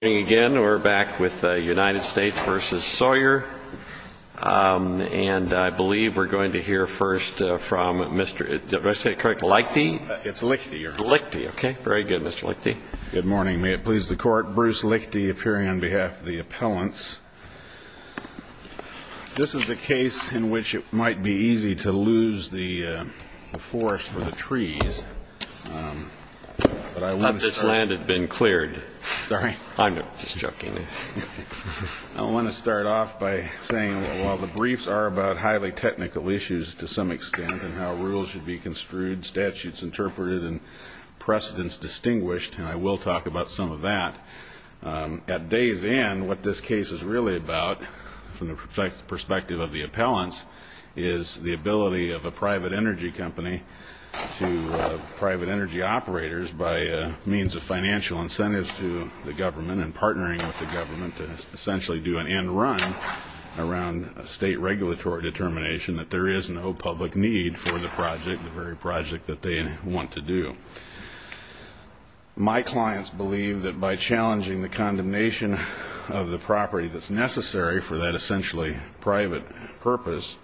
And I believe we're going to hear first from Mr. Lichte. It's Lichte. Lichte. Okay. Very good, Mr. Lichte. Good morning. May it please the Court. Bruce Lichte appearing on behalf of the appellants. This is a case in which it might be easy to lose the forest for the trees. I'm sorry. I'm sorry. I'm sorry. I'm sorry. I'm sorry. I'm sorry. I'm sorry. I'm sorry. I don't know. Just joking. I want to start off by saying while the briefs are about highly technical issues to some extent and how rules should be construed, statutes interpreted and precedents distinguished, and I will talk about some of that. At day's end, what this case is really about from the perspective of the appellants is the ability of a private energy company to private energy operators by means of financial incentives to the government and partnering with the government to essentially do an end run around a state regulatory determination that there is no public need for the project, the very project that they want to do. My clients believe that by challenging the condemnation of the property that's necessary for that essentially private purpose,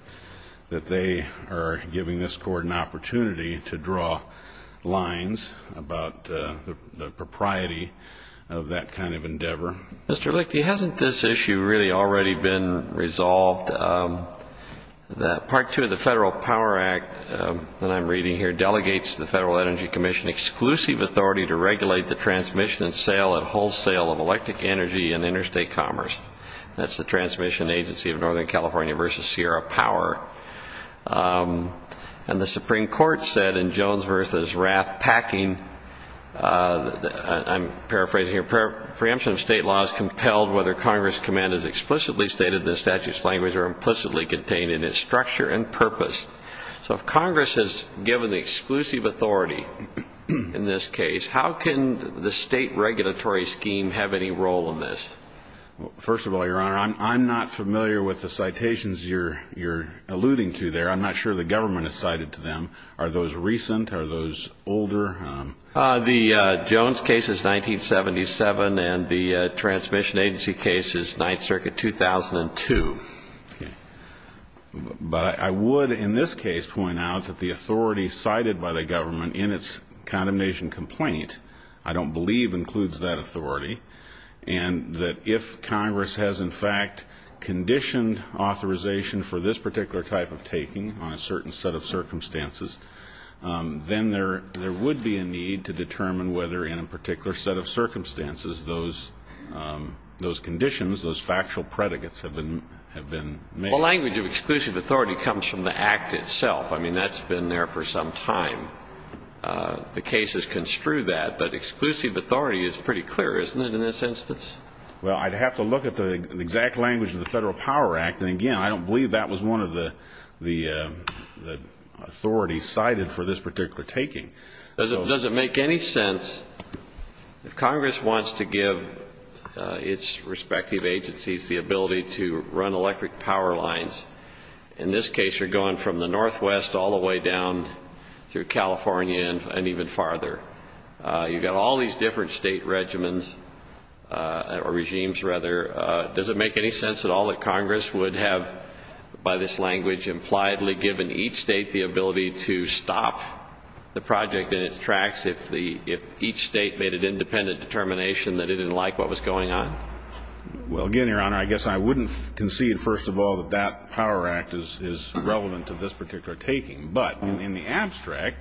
that they are giving this court an opportunity to draw lines about the propriety of that kind of endeavor. Mr. Lichte, hasn't this issue really already been resolved? Part two of the Federal Power Act that I'm reading here delegates to the Federal Energy Commission exclusive authority to regulate the transmission and sale and wholesale of electric energy and interstate commerce. That's the Transmission Agency of Northern California versus Sierra Power. And the Supreme Court said in Jones versus Rath packing, I'm paraphrasing here, preemption of state law is compelled whether Congress' command is explicitly stated in the statute's language or implicitly contained in its structure and purpose. So if Congress has given the exclusive authority in this case, how can the state regulatory scheme have any role in this? First of all, Your Honor, I'm not familiar with the citations you're alluding to there. I'm not sure the government has cited to them. Are those recent? Are those older? The Jones case is 1977, and the Transmission Agency case is 9th Circuit, 2002. But I would in this case point out that the authority cited by the government in its If Congress has, in fact, conditioned authorization for this particular type of taking on a certain set of circumstances, then there would be a need to determine whether in a particular set of circumstances those conditions, those factual predicates have been made. Well, language of exclusive authority comes from the Act itself. I mean, that's been there for some time. The cases construe that. But exclusive authority is pretty clear, isn't it, in this instance? Well, I'd have to look at the exact language of the Federal Power Act. And again, I don't believe that was one of the authorities cited for this particular taking. Does it make any sense if Congress wants to give its respective agencies the ability to run electric power lines? In this case, you're going from the northwest all the way down through California and even farther. You've got all these different state regimens or regimes, rather. Does it make any sense at all that Congress would have, by this language, impliedly given each state the ability to stop the project in its tracks if each state made an independent determination that it didn't like what was going on? Well, again, Your Honor, I guess I wouldn't concede, first of all, that that Power Act is relevant to this particular taking. But in the abstract,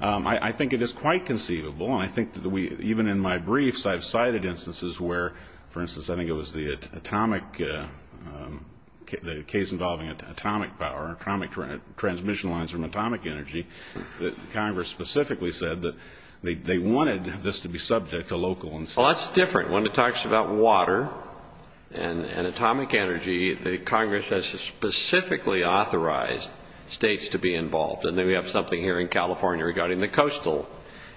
I think it is quite conceivable, and I think even in my briefs, I've cited instances where, for instance, I think it was the atomic, the case involving atomic power, atomic transmission lines from atomic energy, that Congress specifically said that they wanted this to be subject to local institutions. Well, that's different. When it talks about water and atomic energy, Congress has specifically authorized states to be involved. And then we have something here in California regarding the Coastal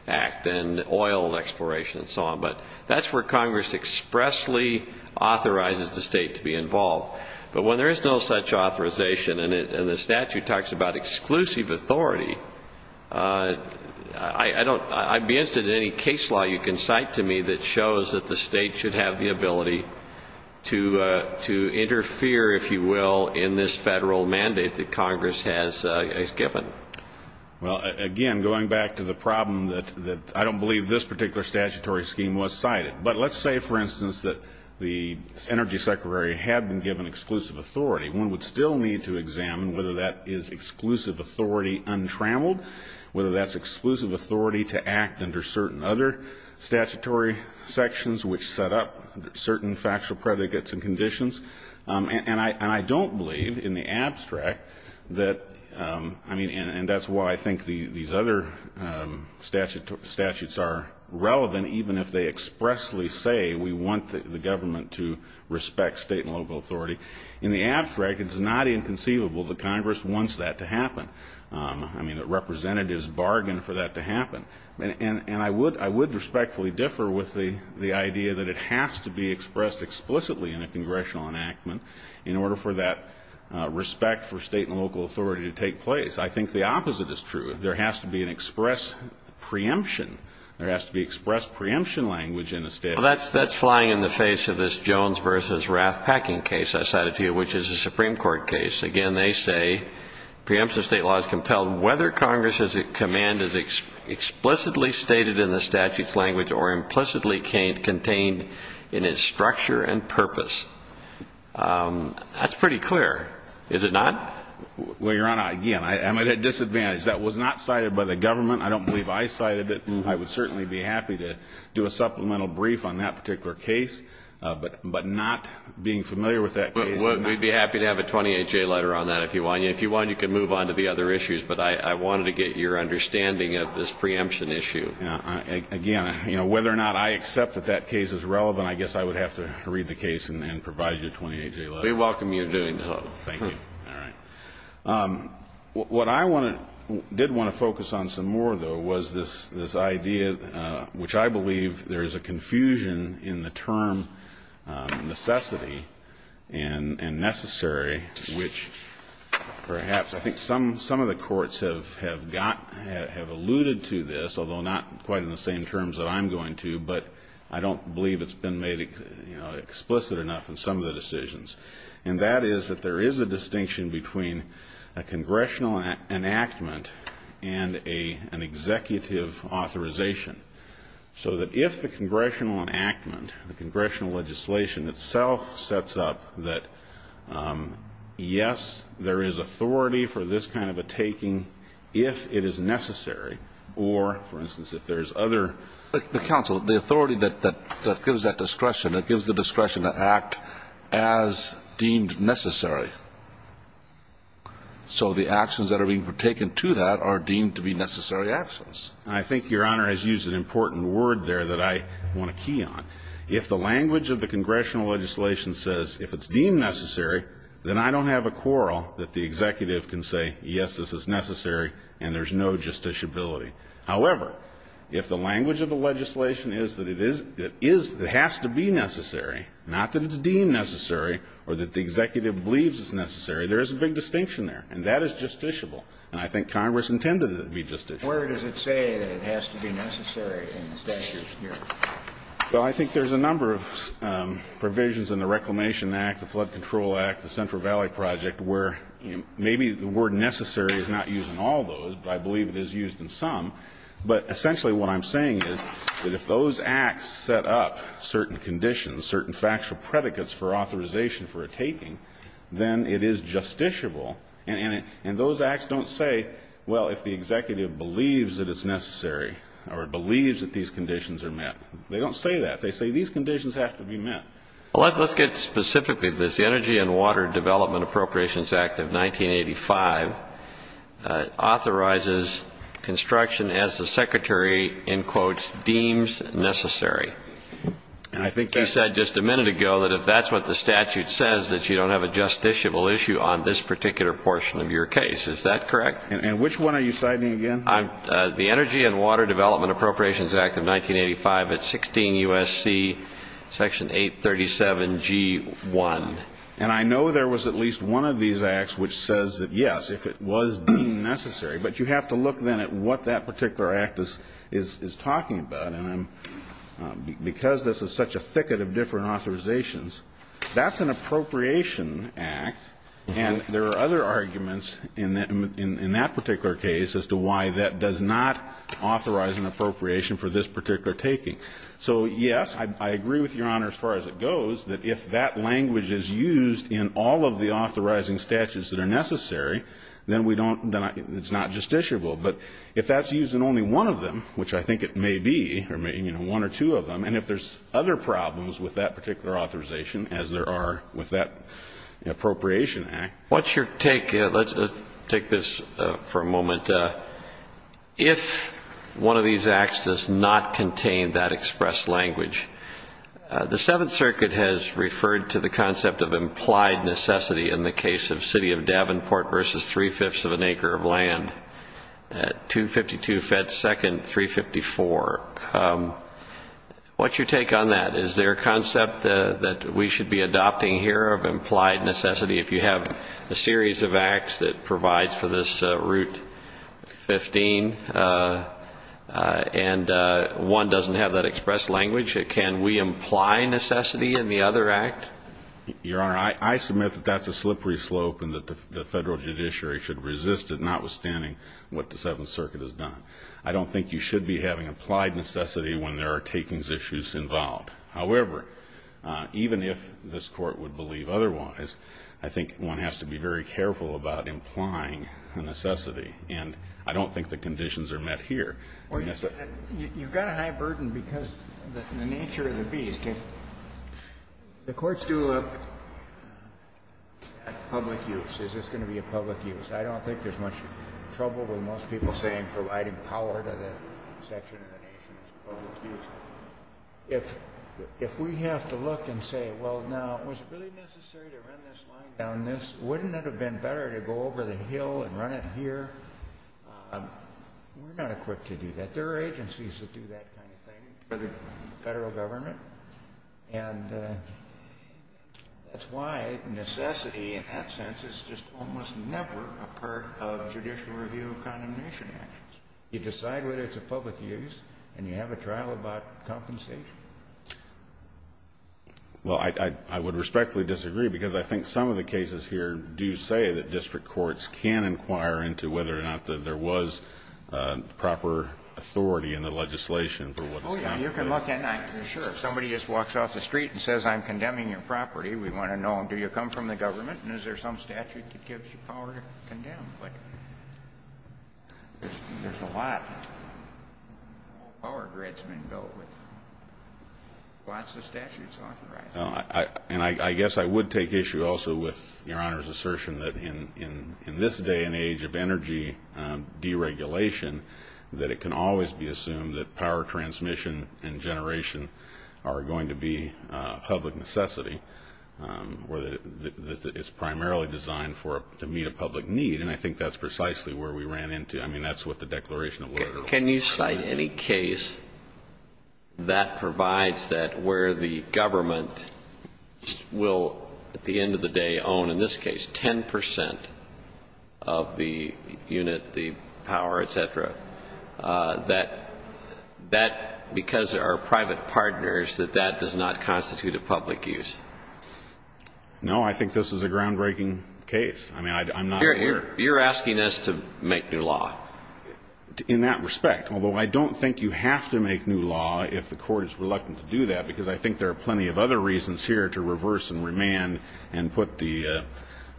Act and oil exploration and so on. But that's where Congress expressly authorizes the state to be involved. But when there is no such authorization and the statute talks about exclusive authority, I don't, I'd be interested in any case law you can cite to me that shows that the state should have the ability to interfere, if you will, in this federal mandate that Congress has given. Well, again, going back to the problem that I don't believe this particular statutory scheme was cited. But let's say, for instance, that the Energy Secretary had been given exclusive authority. One would still need to examine whether that is exclusive authority untrammeled, whether that's exclusive authority to act under certain other statutory sections which set up certain factual predicates and conditions. And I don't believe, in the abstract, that, I mean, and that's why I think these other statutes are relevant, even if they expressly say we want the government to respect state and local authority. In the abstract, it's not inconceivable that Congress wants that to happen, I mean, that representatives bargain for that to happen. And I would respectfully differ with the idea that it has to be expressed explicitly in a congressional enactment in order for that respect for state and local authority to take place. I think the opposite is true. There has to be an express preemption. There has to be expressed preemption language in a statute. That's flying in the face of this Jones v. Rath-Packing case I cited to you, which is a Supreme Court case. Again, they say preemption of state law is compelled whether Congress's command is explicitly stated in the statute's language or implicitly contained in its structure and purpose. That's pretty clear, is it not? Well, Your Honor, again, I'm at a disadvantage. That was not cited by the government. I don't believe I cited it. I would certainly be happy to do a supplemental brief on that particular case, but not being familiar with that case. Well, we'd be happy to have a 28-J letter on that if you want. If you want, you can move on to the other issues, but I wanted to get your understanding of this preemption issue. Again, you know, whether or not I accept that that case is relevant, I guess I would have to read the case and provide you a 28-J letter. We welcome you doing so. Thank you. All right. What I want to do, did want to focus on some more, though, was this idea which I believe there is a confusion in the term necessity and necessary, which perhaps I think some of the courts have alluded to this, although not quite in the same terms that I'm going to, but I don't believe it's been made explicit enough in some of the decisions. And that is that there is a distinction between a congressional enactment and an executive authorization, so that if the congressional enactment, the congressional legislation itself sets up that, yes, there is authority for this kind of a taking if it is necessary, or, for instance, if there's other ---- But, counsel, the authority that gives that discretion, that gives the discretion to act as deemed necessary, so the actions that are being partaken to that are deemed to be necessary actions. I think Your Honor has used an important word there that I want to key on. If the language of the congressional legislation says if it's deemed necessary, then I don't have a quarrel that the executive can say, yes, this is necessary and there's no justiciability. However, if the language of the legislation is that it is ---- it is, it has to be necessary, not that it's deemed necessary or that the executive believes it's necessary, there is a big distinction there, and that is justiciable, and I think Congress intended it to be justiciable. Where does it say that it has to be necessary in the statute here? Well, I think there's a number of provisions in the Reclamation Act, the Flood Control Act, the Central Valley Project, where maybe the word necessary is not used in all those, but I believe it is used in some, but essentially what I'm saying is that if those acts set up certain conditions, certain factual predicates for authorization for a taking, then it is justiciable, and those acts don't say, well, if the executive believes that it's necessary or believes that these conditions are met, they don't say that. They say these conditions have to be met. Well, let's get specifically to this. The Energy and Water Development Appropriations Act of 1985 authorizes construction as the Secretary, in quotes, deems necessary. I think you said just a minute ago that if that's what the statute says, that you don't have a justiciable issue on this particular portion of your case. Is that correct? And which one are you citing again? The Energy and Water Development Appropriations Act of 1985, it's 16 U.S.C., section 837G1. And I know there was at least one of these acts which says that, yes, if it was deemed necessary, but you have to look then at what that particular act is talking about, and because this is such a thicket of different authorizations, that's an appropriation act, and there are other arguments in that particular case as to why that does not authorize an appropriation for this particular taking. So yes, I agree with Your Honor as far as it goes, that if that language is used in all of the authorizing statutes that are necessary, then it's not justiciable. But if that's used in only one of them, which I think it may be, one or two of them, and if there's other problems with that particular authorization, as there are with that appropriation act. What's your take? Let's take this for a moment. If one of these acts does not contain that expressed language, the Seventh Circuit has referred to the concept of implied necessity in the case of City of Davenport versus three-fifths of an acre of land at 252 Ft. 2nd, 354. What's your take on that? Is there a concept that we should be adopting here of implied necessity if you have a series of acts that provides for this Route 15 and one doesn't have that expressed language? Can we imply necessity in the other act? Your Honor, I submit that that's a slippery slope and that the Federal judiciary should resist it, notwithstanding what the Seventh Circuit has done. I don't think you should be having implied necessity when there are takings issues involved. However, even if this Court would believe otherwise, I think one has to be very careful about implying necessity, and I don't think the conditions are met here. Well, you've got a high burden because of the nature of the bees. The Court's going to look at public use. Is this going to be a public use? I don't think there's much trouble with most people saying providing power to the section of the nation is a public use. If we have to look and say, well, now, was it really necessary to run this line down this? Wouldn't it have been better to go over the hill and run it here? We're not equipped to do that. There are agencies that do that kind of thing for the Federal government, and that's why necessity, in that sense, is just almost never a part of judicial review of condemnation actions. You decide whether it's a public use, and you have a trial about compensation. Well, I would respectfully disagree because I think some of the cases here do say that there was proper authority in the legislation for what was done. Oh, yeah, you can look, and I can assure you, if somebody just walks off the street and says, I'm condemning your property, we want to know, do you come from the government, and is there some statute that gives you power to condemn? There's a lot of power grids that have been built with lots of statutes authorizing it. And I guess I would take issue also with Your Honor's assertion that in this day and age of energy deregulation, that it can always be assumed that power transmission and generation are going to be a public necessity, or that it's primarily designed to meet a public need. And I think that's precisely where we ran into, I mean, that's what the declaration of labor law is. Can you cite any case that provides that where the government will, at the end of the day, own, in this case, 10 percent of the unit, the power, et cetera, that that, because they are private partners, that that does not constitute a public use? No, I think this is a groundbreaking case. I mean, I'm not aware. You're asking us to make new law. In that respect, although I don't think you have to make new law if the Court is reluctant to do that, because I think there are plenty of other reasons here to reverse and remand and put the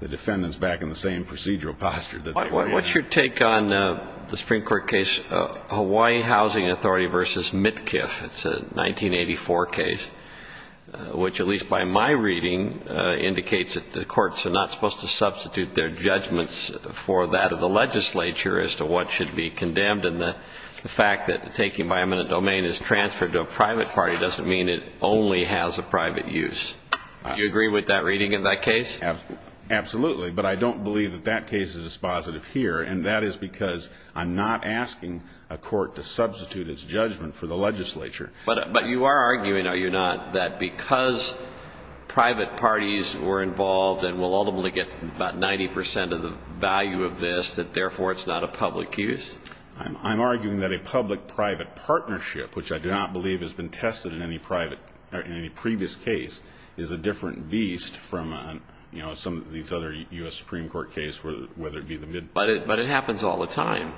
defendants back in the same procedural posture that they were in. What's your take on the Supreme Court case Hawaii Housing Authority v. Mitkiff? It's a 1984 case, which, at least by my reading, indicates that the courts are not supposed to substitute their judgments for that of the legislature as to what should be condemned. And the fact that taking by eminent domain is transferred to a private party doesn't mean it only has a private use. Do you agree with that reading in that case? Absolutely. But I don't believe that that case is dispositive here, and that is because I'm not asking a court to substitute its judgment for the legislature. But you are arguing, are you not, that because private parties were involved and will ultimately get about 90 percent of the value of this, that therefore it's not a public use? I'm arguing that a public-private partnership, which I do not believe has been tested in any previous case, is a different beast from, you know, some of these other U.S. Supreme Court cases, whether it be the mid- But it happens all the time.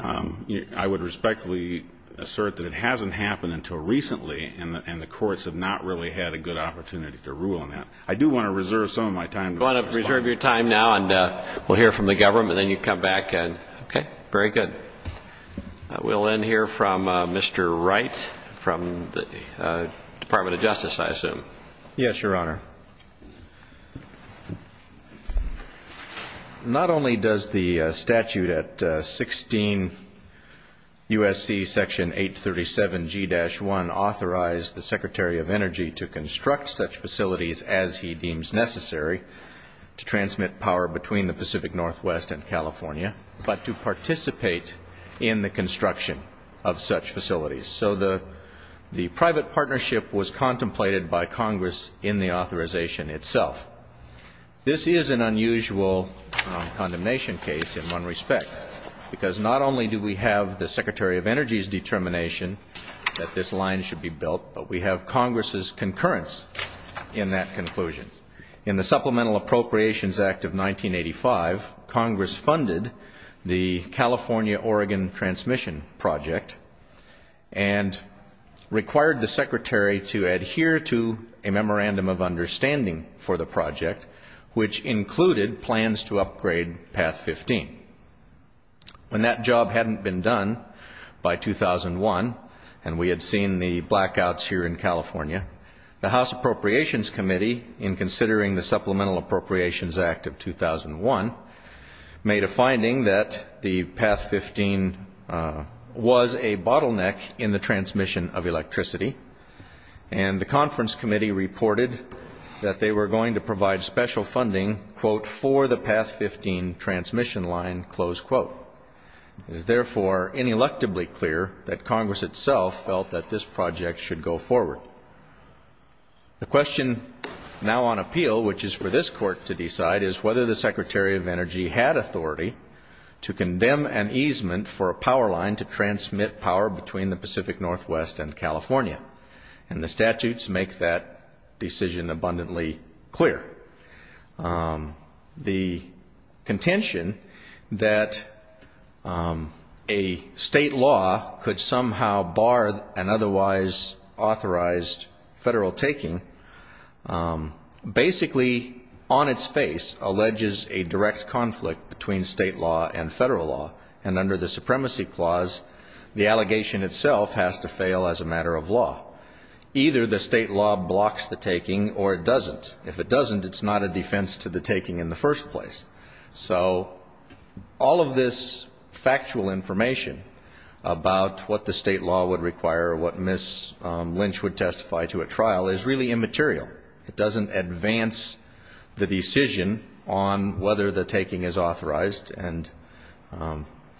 I would respectfully assert that it hasn't happened until recently, and the courts have not really had a good opportunity to rule on that. I do want to reserve some of my time to- You want to reserve your time now, and we'll hear from the government, and then you come back and- Okay. Very good. We'll end here from Mr. Wright, from the Department of Justice, I assume. Yes, Your Honor. Not only does the statute at 16 U.S.C. Section 837G-1 authorize the Secretary of Energy to construct such facilities as he deems necessary to transmit power between the Pacific Northwest and California, but to participate in the construction of such facilities. So the private partnership was contemplated by Congress in the authorization itself. This is an unusual condemnation case in one respect, because not only do we have the Secretary of Energy's determination that this line should be built, but we have Congress's concurrence in that conclusion. In the Supplemental Appropriations Act of 1985, Congress funded the California-Oregon transmission project and required the Secretary to adhere to a memorandum of understanding for the project, which included plans to upgrade Path 15. When that job hadn't been done by 2001, and we had seen the blackouts here in California, the House Appropriations Committee, in considering the Supplemental Appropriations Act of 2001, made a finding that the Path 15 was a bottleneck in the transmission of electricity, and the Conference Committee reported that they were going to provide special funding, quote, for the Path 15 transmission line, close quote. It is therefore ineluctably clear that Congress itself felt that this project should go forward. The question now on appeal, which is for this Court to decide, is whether the Secretary of Energy had authority to condemn an easement for a power line to transmit power between the Pacific Northwest and California. And the statutes make that decision abundantly clear. The contention that a state law could somehow bar an otherwise authorized federal taking basically, on its face, alleges a direct conflict between state law and federal law, and under the Supremacy Clause, the allegation itself has to fail as a matter of law. Either the state law blocks the taking or it doesn't. If it doesn't, it's not a defense to the taking in the first place. So all of this factual information about what the state law would require or what Ms. Lynch would testify to at trial is really immaterial. It doesn't advance the decision on whether the taking is authorized, and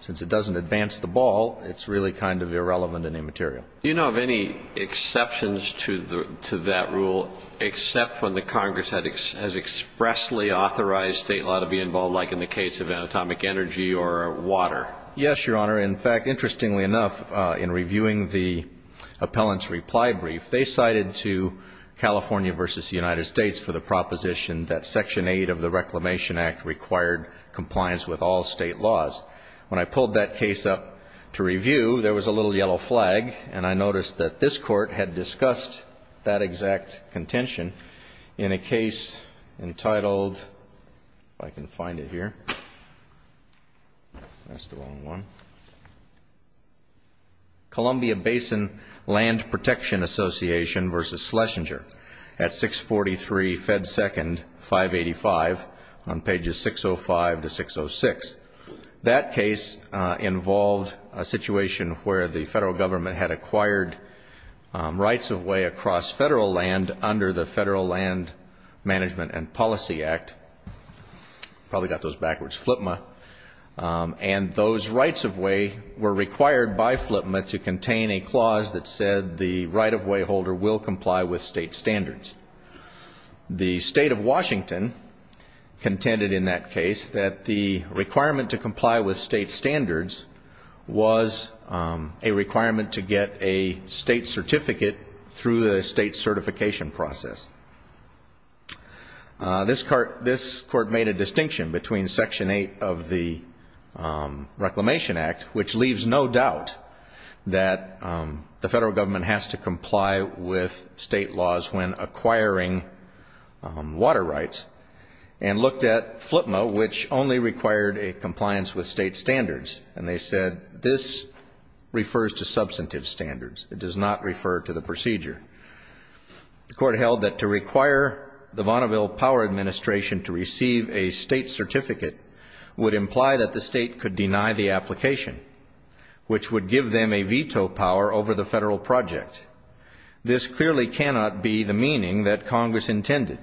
since it doesn't advance the ball, it's really kind of irrelevant and immaterial. Do you know of any exceptions to that rule, except when the Congress has expressly authorized state law to be involved, like in the case of atomic energy or water? Yes, Your Honor. In fact, interestingly enough, in reviewing the appellant's reply brief, they cited to California v. United States for the proposition that Section 8 of the Reclamation Act required compliance with all state laws. When I pulled that case up to notice that this Court had discussed that exact contention in a case entitled, if I can find it here, that's the wrong one, Columbia Basin Land Protection Association v. Schlesinger at 643 Fed 2nd, 585, on pages 605 to 606. That case involved a situation where the Federal Government had acquired rights-of-way across Federal land under the Federal Land Management and Policy Act, probably got those backwards, FLPMA, and those rights-of-way were required by FLPMA to contain a clause that said the right-of-way holder will comply with state standards. The State of Washington contended in that case that the requirement to comply with state standards was a requirement to get a state certificate through the state certification process. This Court made a distinction between Section 8 of the Reclamation Act, which leaves no doubt that the Federal Government has to comply with state laws when acquiring water rights, and looked at FLPMA, which only required a compliance with state standards. And they said this refers to substantive standards. It does not refer to the procedure. The Court held that to require the Vaunaville Power Administration to receive a state certificate would imply that the State could deny the application, which would give them a veto power over the Federal project. This clearly cannot be the meaning that Congress intended.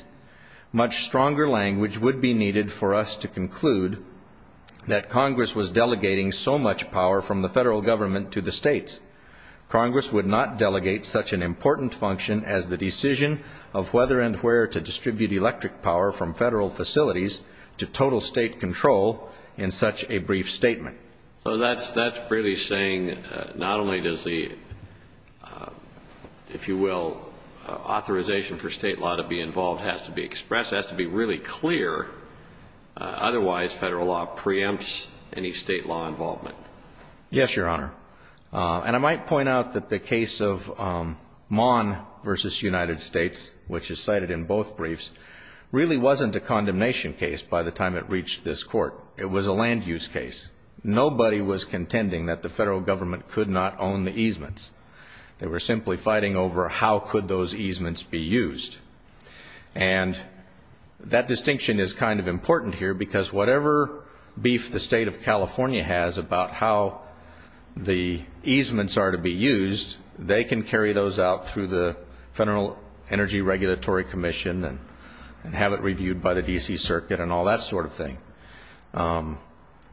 Much stronger language would be needed for us to conclude that Congress was delegating so much power from the Federal Government to the States. Congress would not delegate such an important function as the decision of whether and where to distribute electric power from Federal facilities to total State control in such a brief statement. So that's really saying not only does the, if you will, authorization for State law to be involved has to be expressed, it has to be really clear. Otherwise, Federal law preempts any State law involvement. Yes, Your Honor. And I might point out that the case of Maughan v. United States, which is cited in both briefs, really wasn't a condemnation case by the time it reached this Court. It was a land use case. Nobody was contending that the Federal Government could not own the easements. They were simply fighting over how could those easements be used. And that distinction is kind of important here because whatever beef the State of California has about how the easements are to be used, they can carry those out through the Federal Energy Regulatory Commission and have it reviewed by the D.C. Circuit and all that sort of thing.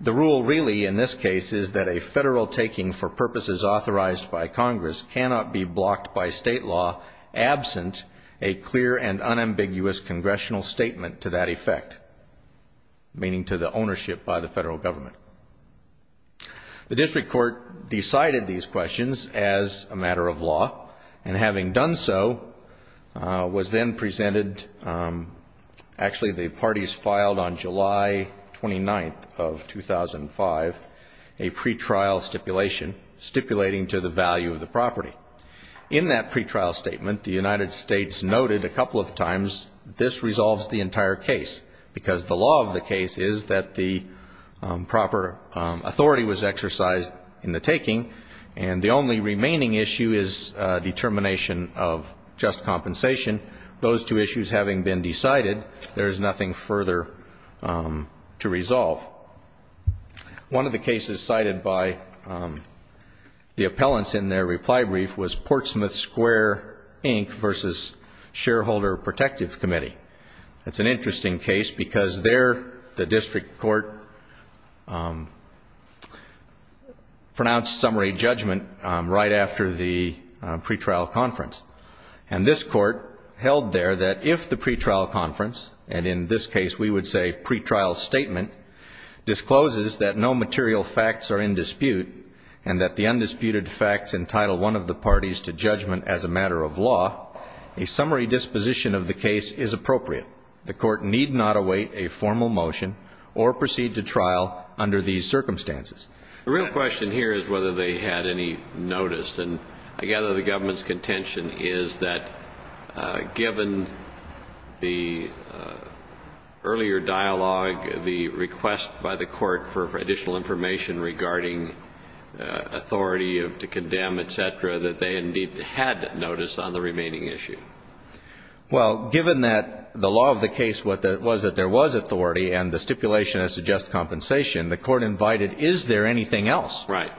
The rule really in this case is that a Federal taking for purposes authorized by Congress cannot be blocked by State law absent a clear and unambiguous Congressional statement to that effect, meaning to the ownership by the Federal Government. The District Court decided these questions as a matter of law, and having done so, was of 2005, a pretrial stipulation stipulating to the value of the property. In that pretrial statement, the United States noted a couple of times, this resolves the entire case because the law of the case is that the proper authority was exercised in the taking, and the only remaining issue is determination of just compensation. Those two issues having been decided, there to resolve. One of the cases cited by the appellants in their reply brief was Portsmouth Square Inc. v. Shareholder Protective Committee. It's an interesting case because there the District Court pronounced summary judgment right after the pretrial conference. And this statement discloses that no material facts are in dispute, and that the undisputed facts entitle one of the parties to judgment as a matter of law. A summary disposition of the case is appropriate. The Court need not await a formal motion or proceed to trial under these circumstances. The real question here is whether they had any notice. And I gather the Government's request by the Court for additional information regarding authority to condemn, et cetera, that they indeed had notice on the remaining issue. Well, given that the law of the case was that there was authority and the stipulation as to just compensation, the Court invited, is there anything else? Right.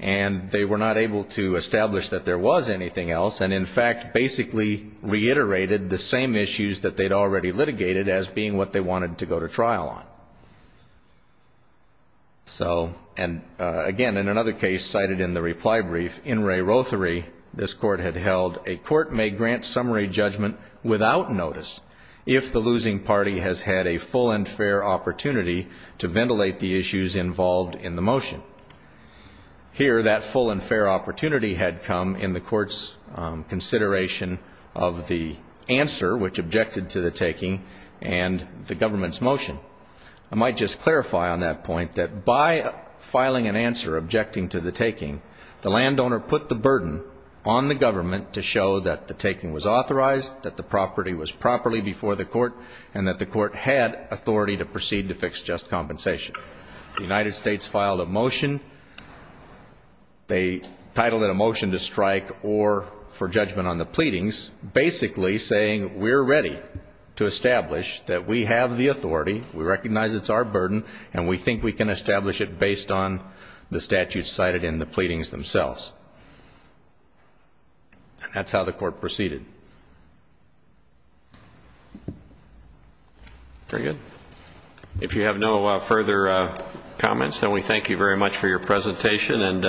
And they were not able to establish that there was anything else, and in fact basically reiterated the same issues that they'd already litigated as being what they wanted to go to trial on. So and again, in another case cited in the reply brief, in Ray Rothery, this Court had held a court may grant summary judgment without notice if the losing party has had a full and fair opportunity to ventilate the issues involved in the motion. Here, that full and fair opportunity had come in the Court's consideration of the answer which objected to the taking and the Government's motion. I might just clarify on that point that by filing an answer objecting to the taking, the landowner put the burden on the Government to show that the taking was authorized, that the property was properly before the Court, and that the Court had authority to proceed to fix just compensation. The United States filed a motion. They titled it a motion to strike or for judgment on the landowner to establish that we have the authority, we recognize it's our burden, and we think we can establish it based on the statutes cited in the pleadings themselves. And that's how the Court proceeded. Very good. If you have no further comments, then we thank you very much for your presentation and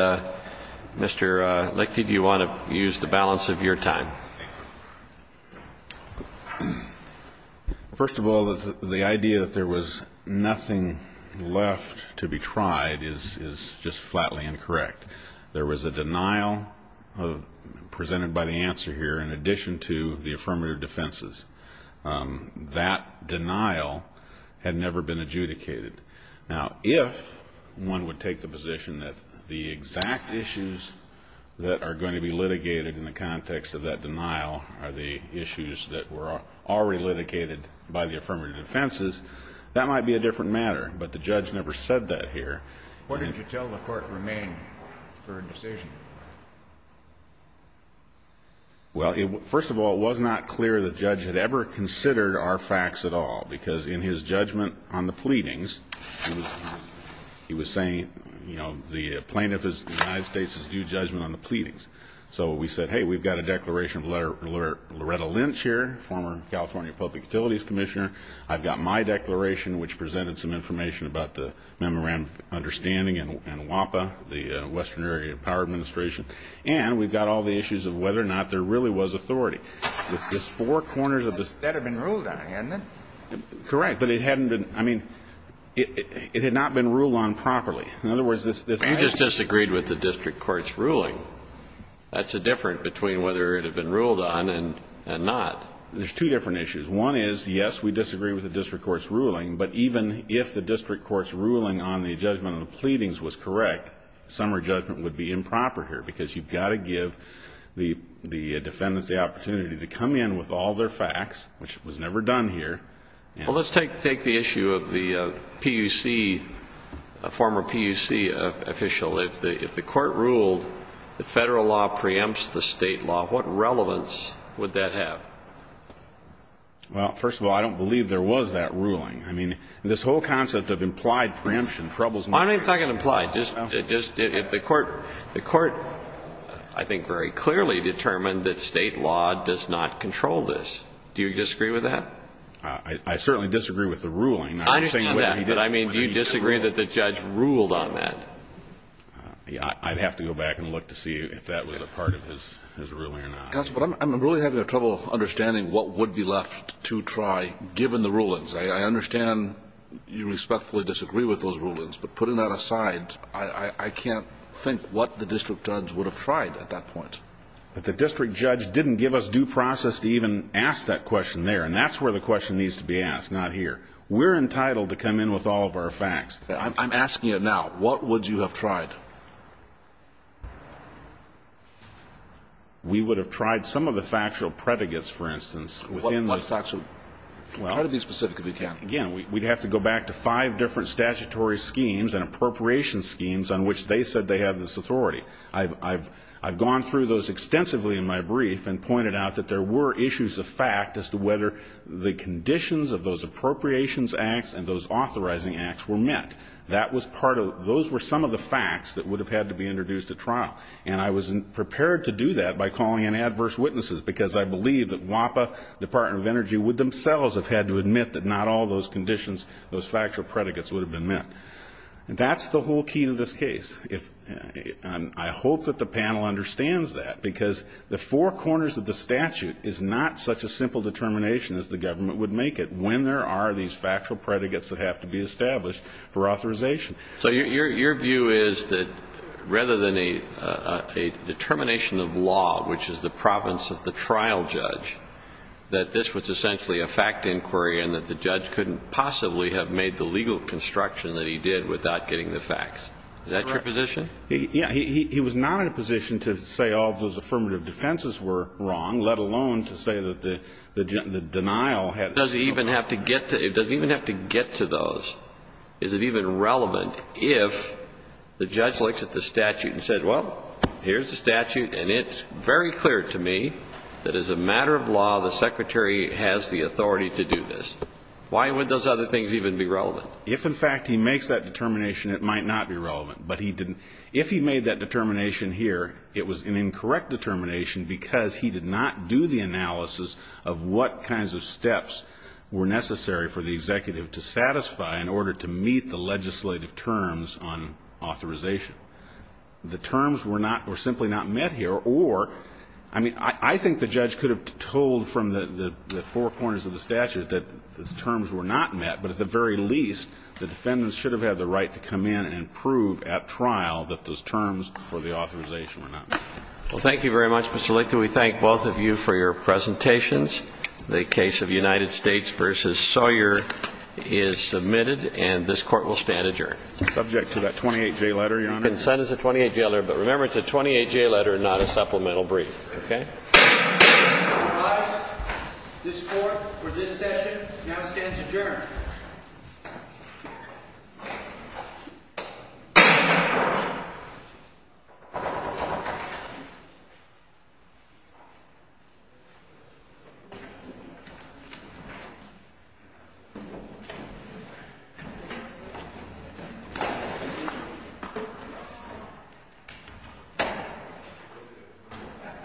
Mr. Lichty, do you want to use the balance of your time? First of all, the idea that there was nothing left to be tried is just flatly incorrect. There was a denial presented by the answer here in addition to the affirmative defenses. That denial had never been adjudicated. Now, if one would take the position that the exact issues that are going to be litigated in the context of that denial are the issues that were already litigated by the affirmative defenses, that might be a different matter. But the judge never said that here. Why didn't you tell the Court to remain for a decision? Well, first of all, it was not clear the judge had ever considered our facts at all, because in his judgment on the pleadings, he was saying, you know, the plaintiff is, the United States is due judgment on the pleadings. So we said, hey, we've got a declaration of Loretta Lynch here, former California Public Utilities Commissioner. I've got my declaration, which presented some information about the memorandum of understanding and WAPA, the Western Area Power Administration. And we've got all the issues of whether or not there really was authority. That had been ruled on, hadn't it? Correct. But it hadn't been, I mean, it had not been ruled on properly. In other words, this action You just disagreed with the district court's ruling. That's the difference between whether it had been ruled on and not. There's two different issues. One is, yes, we disagree with the district court's ruling. But even if the district court's ruling on the judgment of the pleadings was correct, summary judgment would be improper here, because you've got to give the defendants the opportunity to come in with all their facts, which was never done here. Well, let's take the issue of the PUC, former PUC official. If the Court ruled the federal law preempts the state law, what relevance would that have? Well, first of all, I don't believe there was that ruling. I mean, this whole concept of implied preemption troubles me. I'm not even talking implied. Just if the Court, I think, very clearly determined that state law does not control this. Do you disagree with that? I certainly disagree with the ruling. I understand that. But I mean, do you disagree that the judge ruled on that? I'd have to go back and look to see if that was a part of his ruling or not. Counsel, but I'm really having trouble understanding what would be left to try, given the rulings. I understand you respectfully disagree with those rulings. But putting that aside, I can't think what the district judge would have tried at that point. But the district judge didn't give us due process to even ask that question there. And that's where the question needs to be asked, not here. We're entitled to come in with all of our facts. I'm asking it now. What would you have tried? We would have tried some of the factual predicates, for instance. What factual? Try to be specific if you can. Again, we'd have to go back to five different statutory schemes and appropriations schemes on which they said they have this authority. I've gone through those extensively in my brief and pointed out that there were issues of fact as to whether the conditions of those appropriations acts and those authorizing acts were met. That was part of it. Those were some of the facts that would have had to be introduced at trial. And I was prepared to do that by calling in adverse witnesses, because I believe that WAPA, Department of Energy, would themselves have had to admit that not all those conditions, those factual predicates would have been met. That's the whole key to this case. I hope that the panel understands that, because the four corners of the statute is not such a simple determination as the government would make it when there are these factual predicates that have to be established for authorization. So your view is that rather than a determination of law, which is the province of the trial judge, that this was essentially a fact inquiry and that the judge couldn't possibly have made the legal construction that he did without getting the facts. Is that your position? Yeah. He was not in a position to say all those affirmative defenses were wrong, let alone to say that the denial had... Does he even have to get to those? Is it even relevant if the judge looks at the statute and says, well, here's the statute, and it's very clear to me that as a matter of law, the secretary has the authority to do this. Why would those other things even be relevant? If, in fact, he makes that determination, it might not be relevant. But if he made that determination here, it was an incorrect determination because he did not do the analysis of what kinds of steps were necessary for the executive to satisfy in order to meet the legislative terms on authorization. The terms were not or simply not met here, or, I mean, I think the judge could have told from the four corners of the statute that the terms were not met, but at the very least, the defendants should have had the right to come in and prove at trial that those terms for the authorization were not met. Well, thank you very much, Mr. Lictor. We thank both of you for your presentations. The case of United States v. Sawyer is submitted, and this Court will stand adjourned. Subject to that 28-J letter, Your Honor. Consent is a 28-J letter, but remember, it's a 28-J letter, not a supplemental brief, okay? All rise. This Court, for this session, now stands adjourned.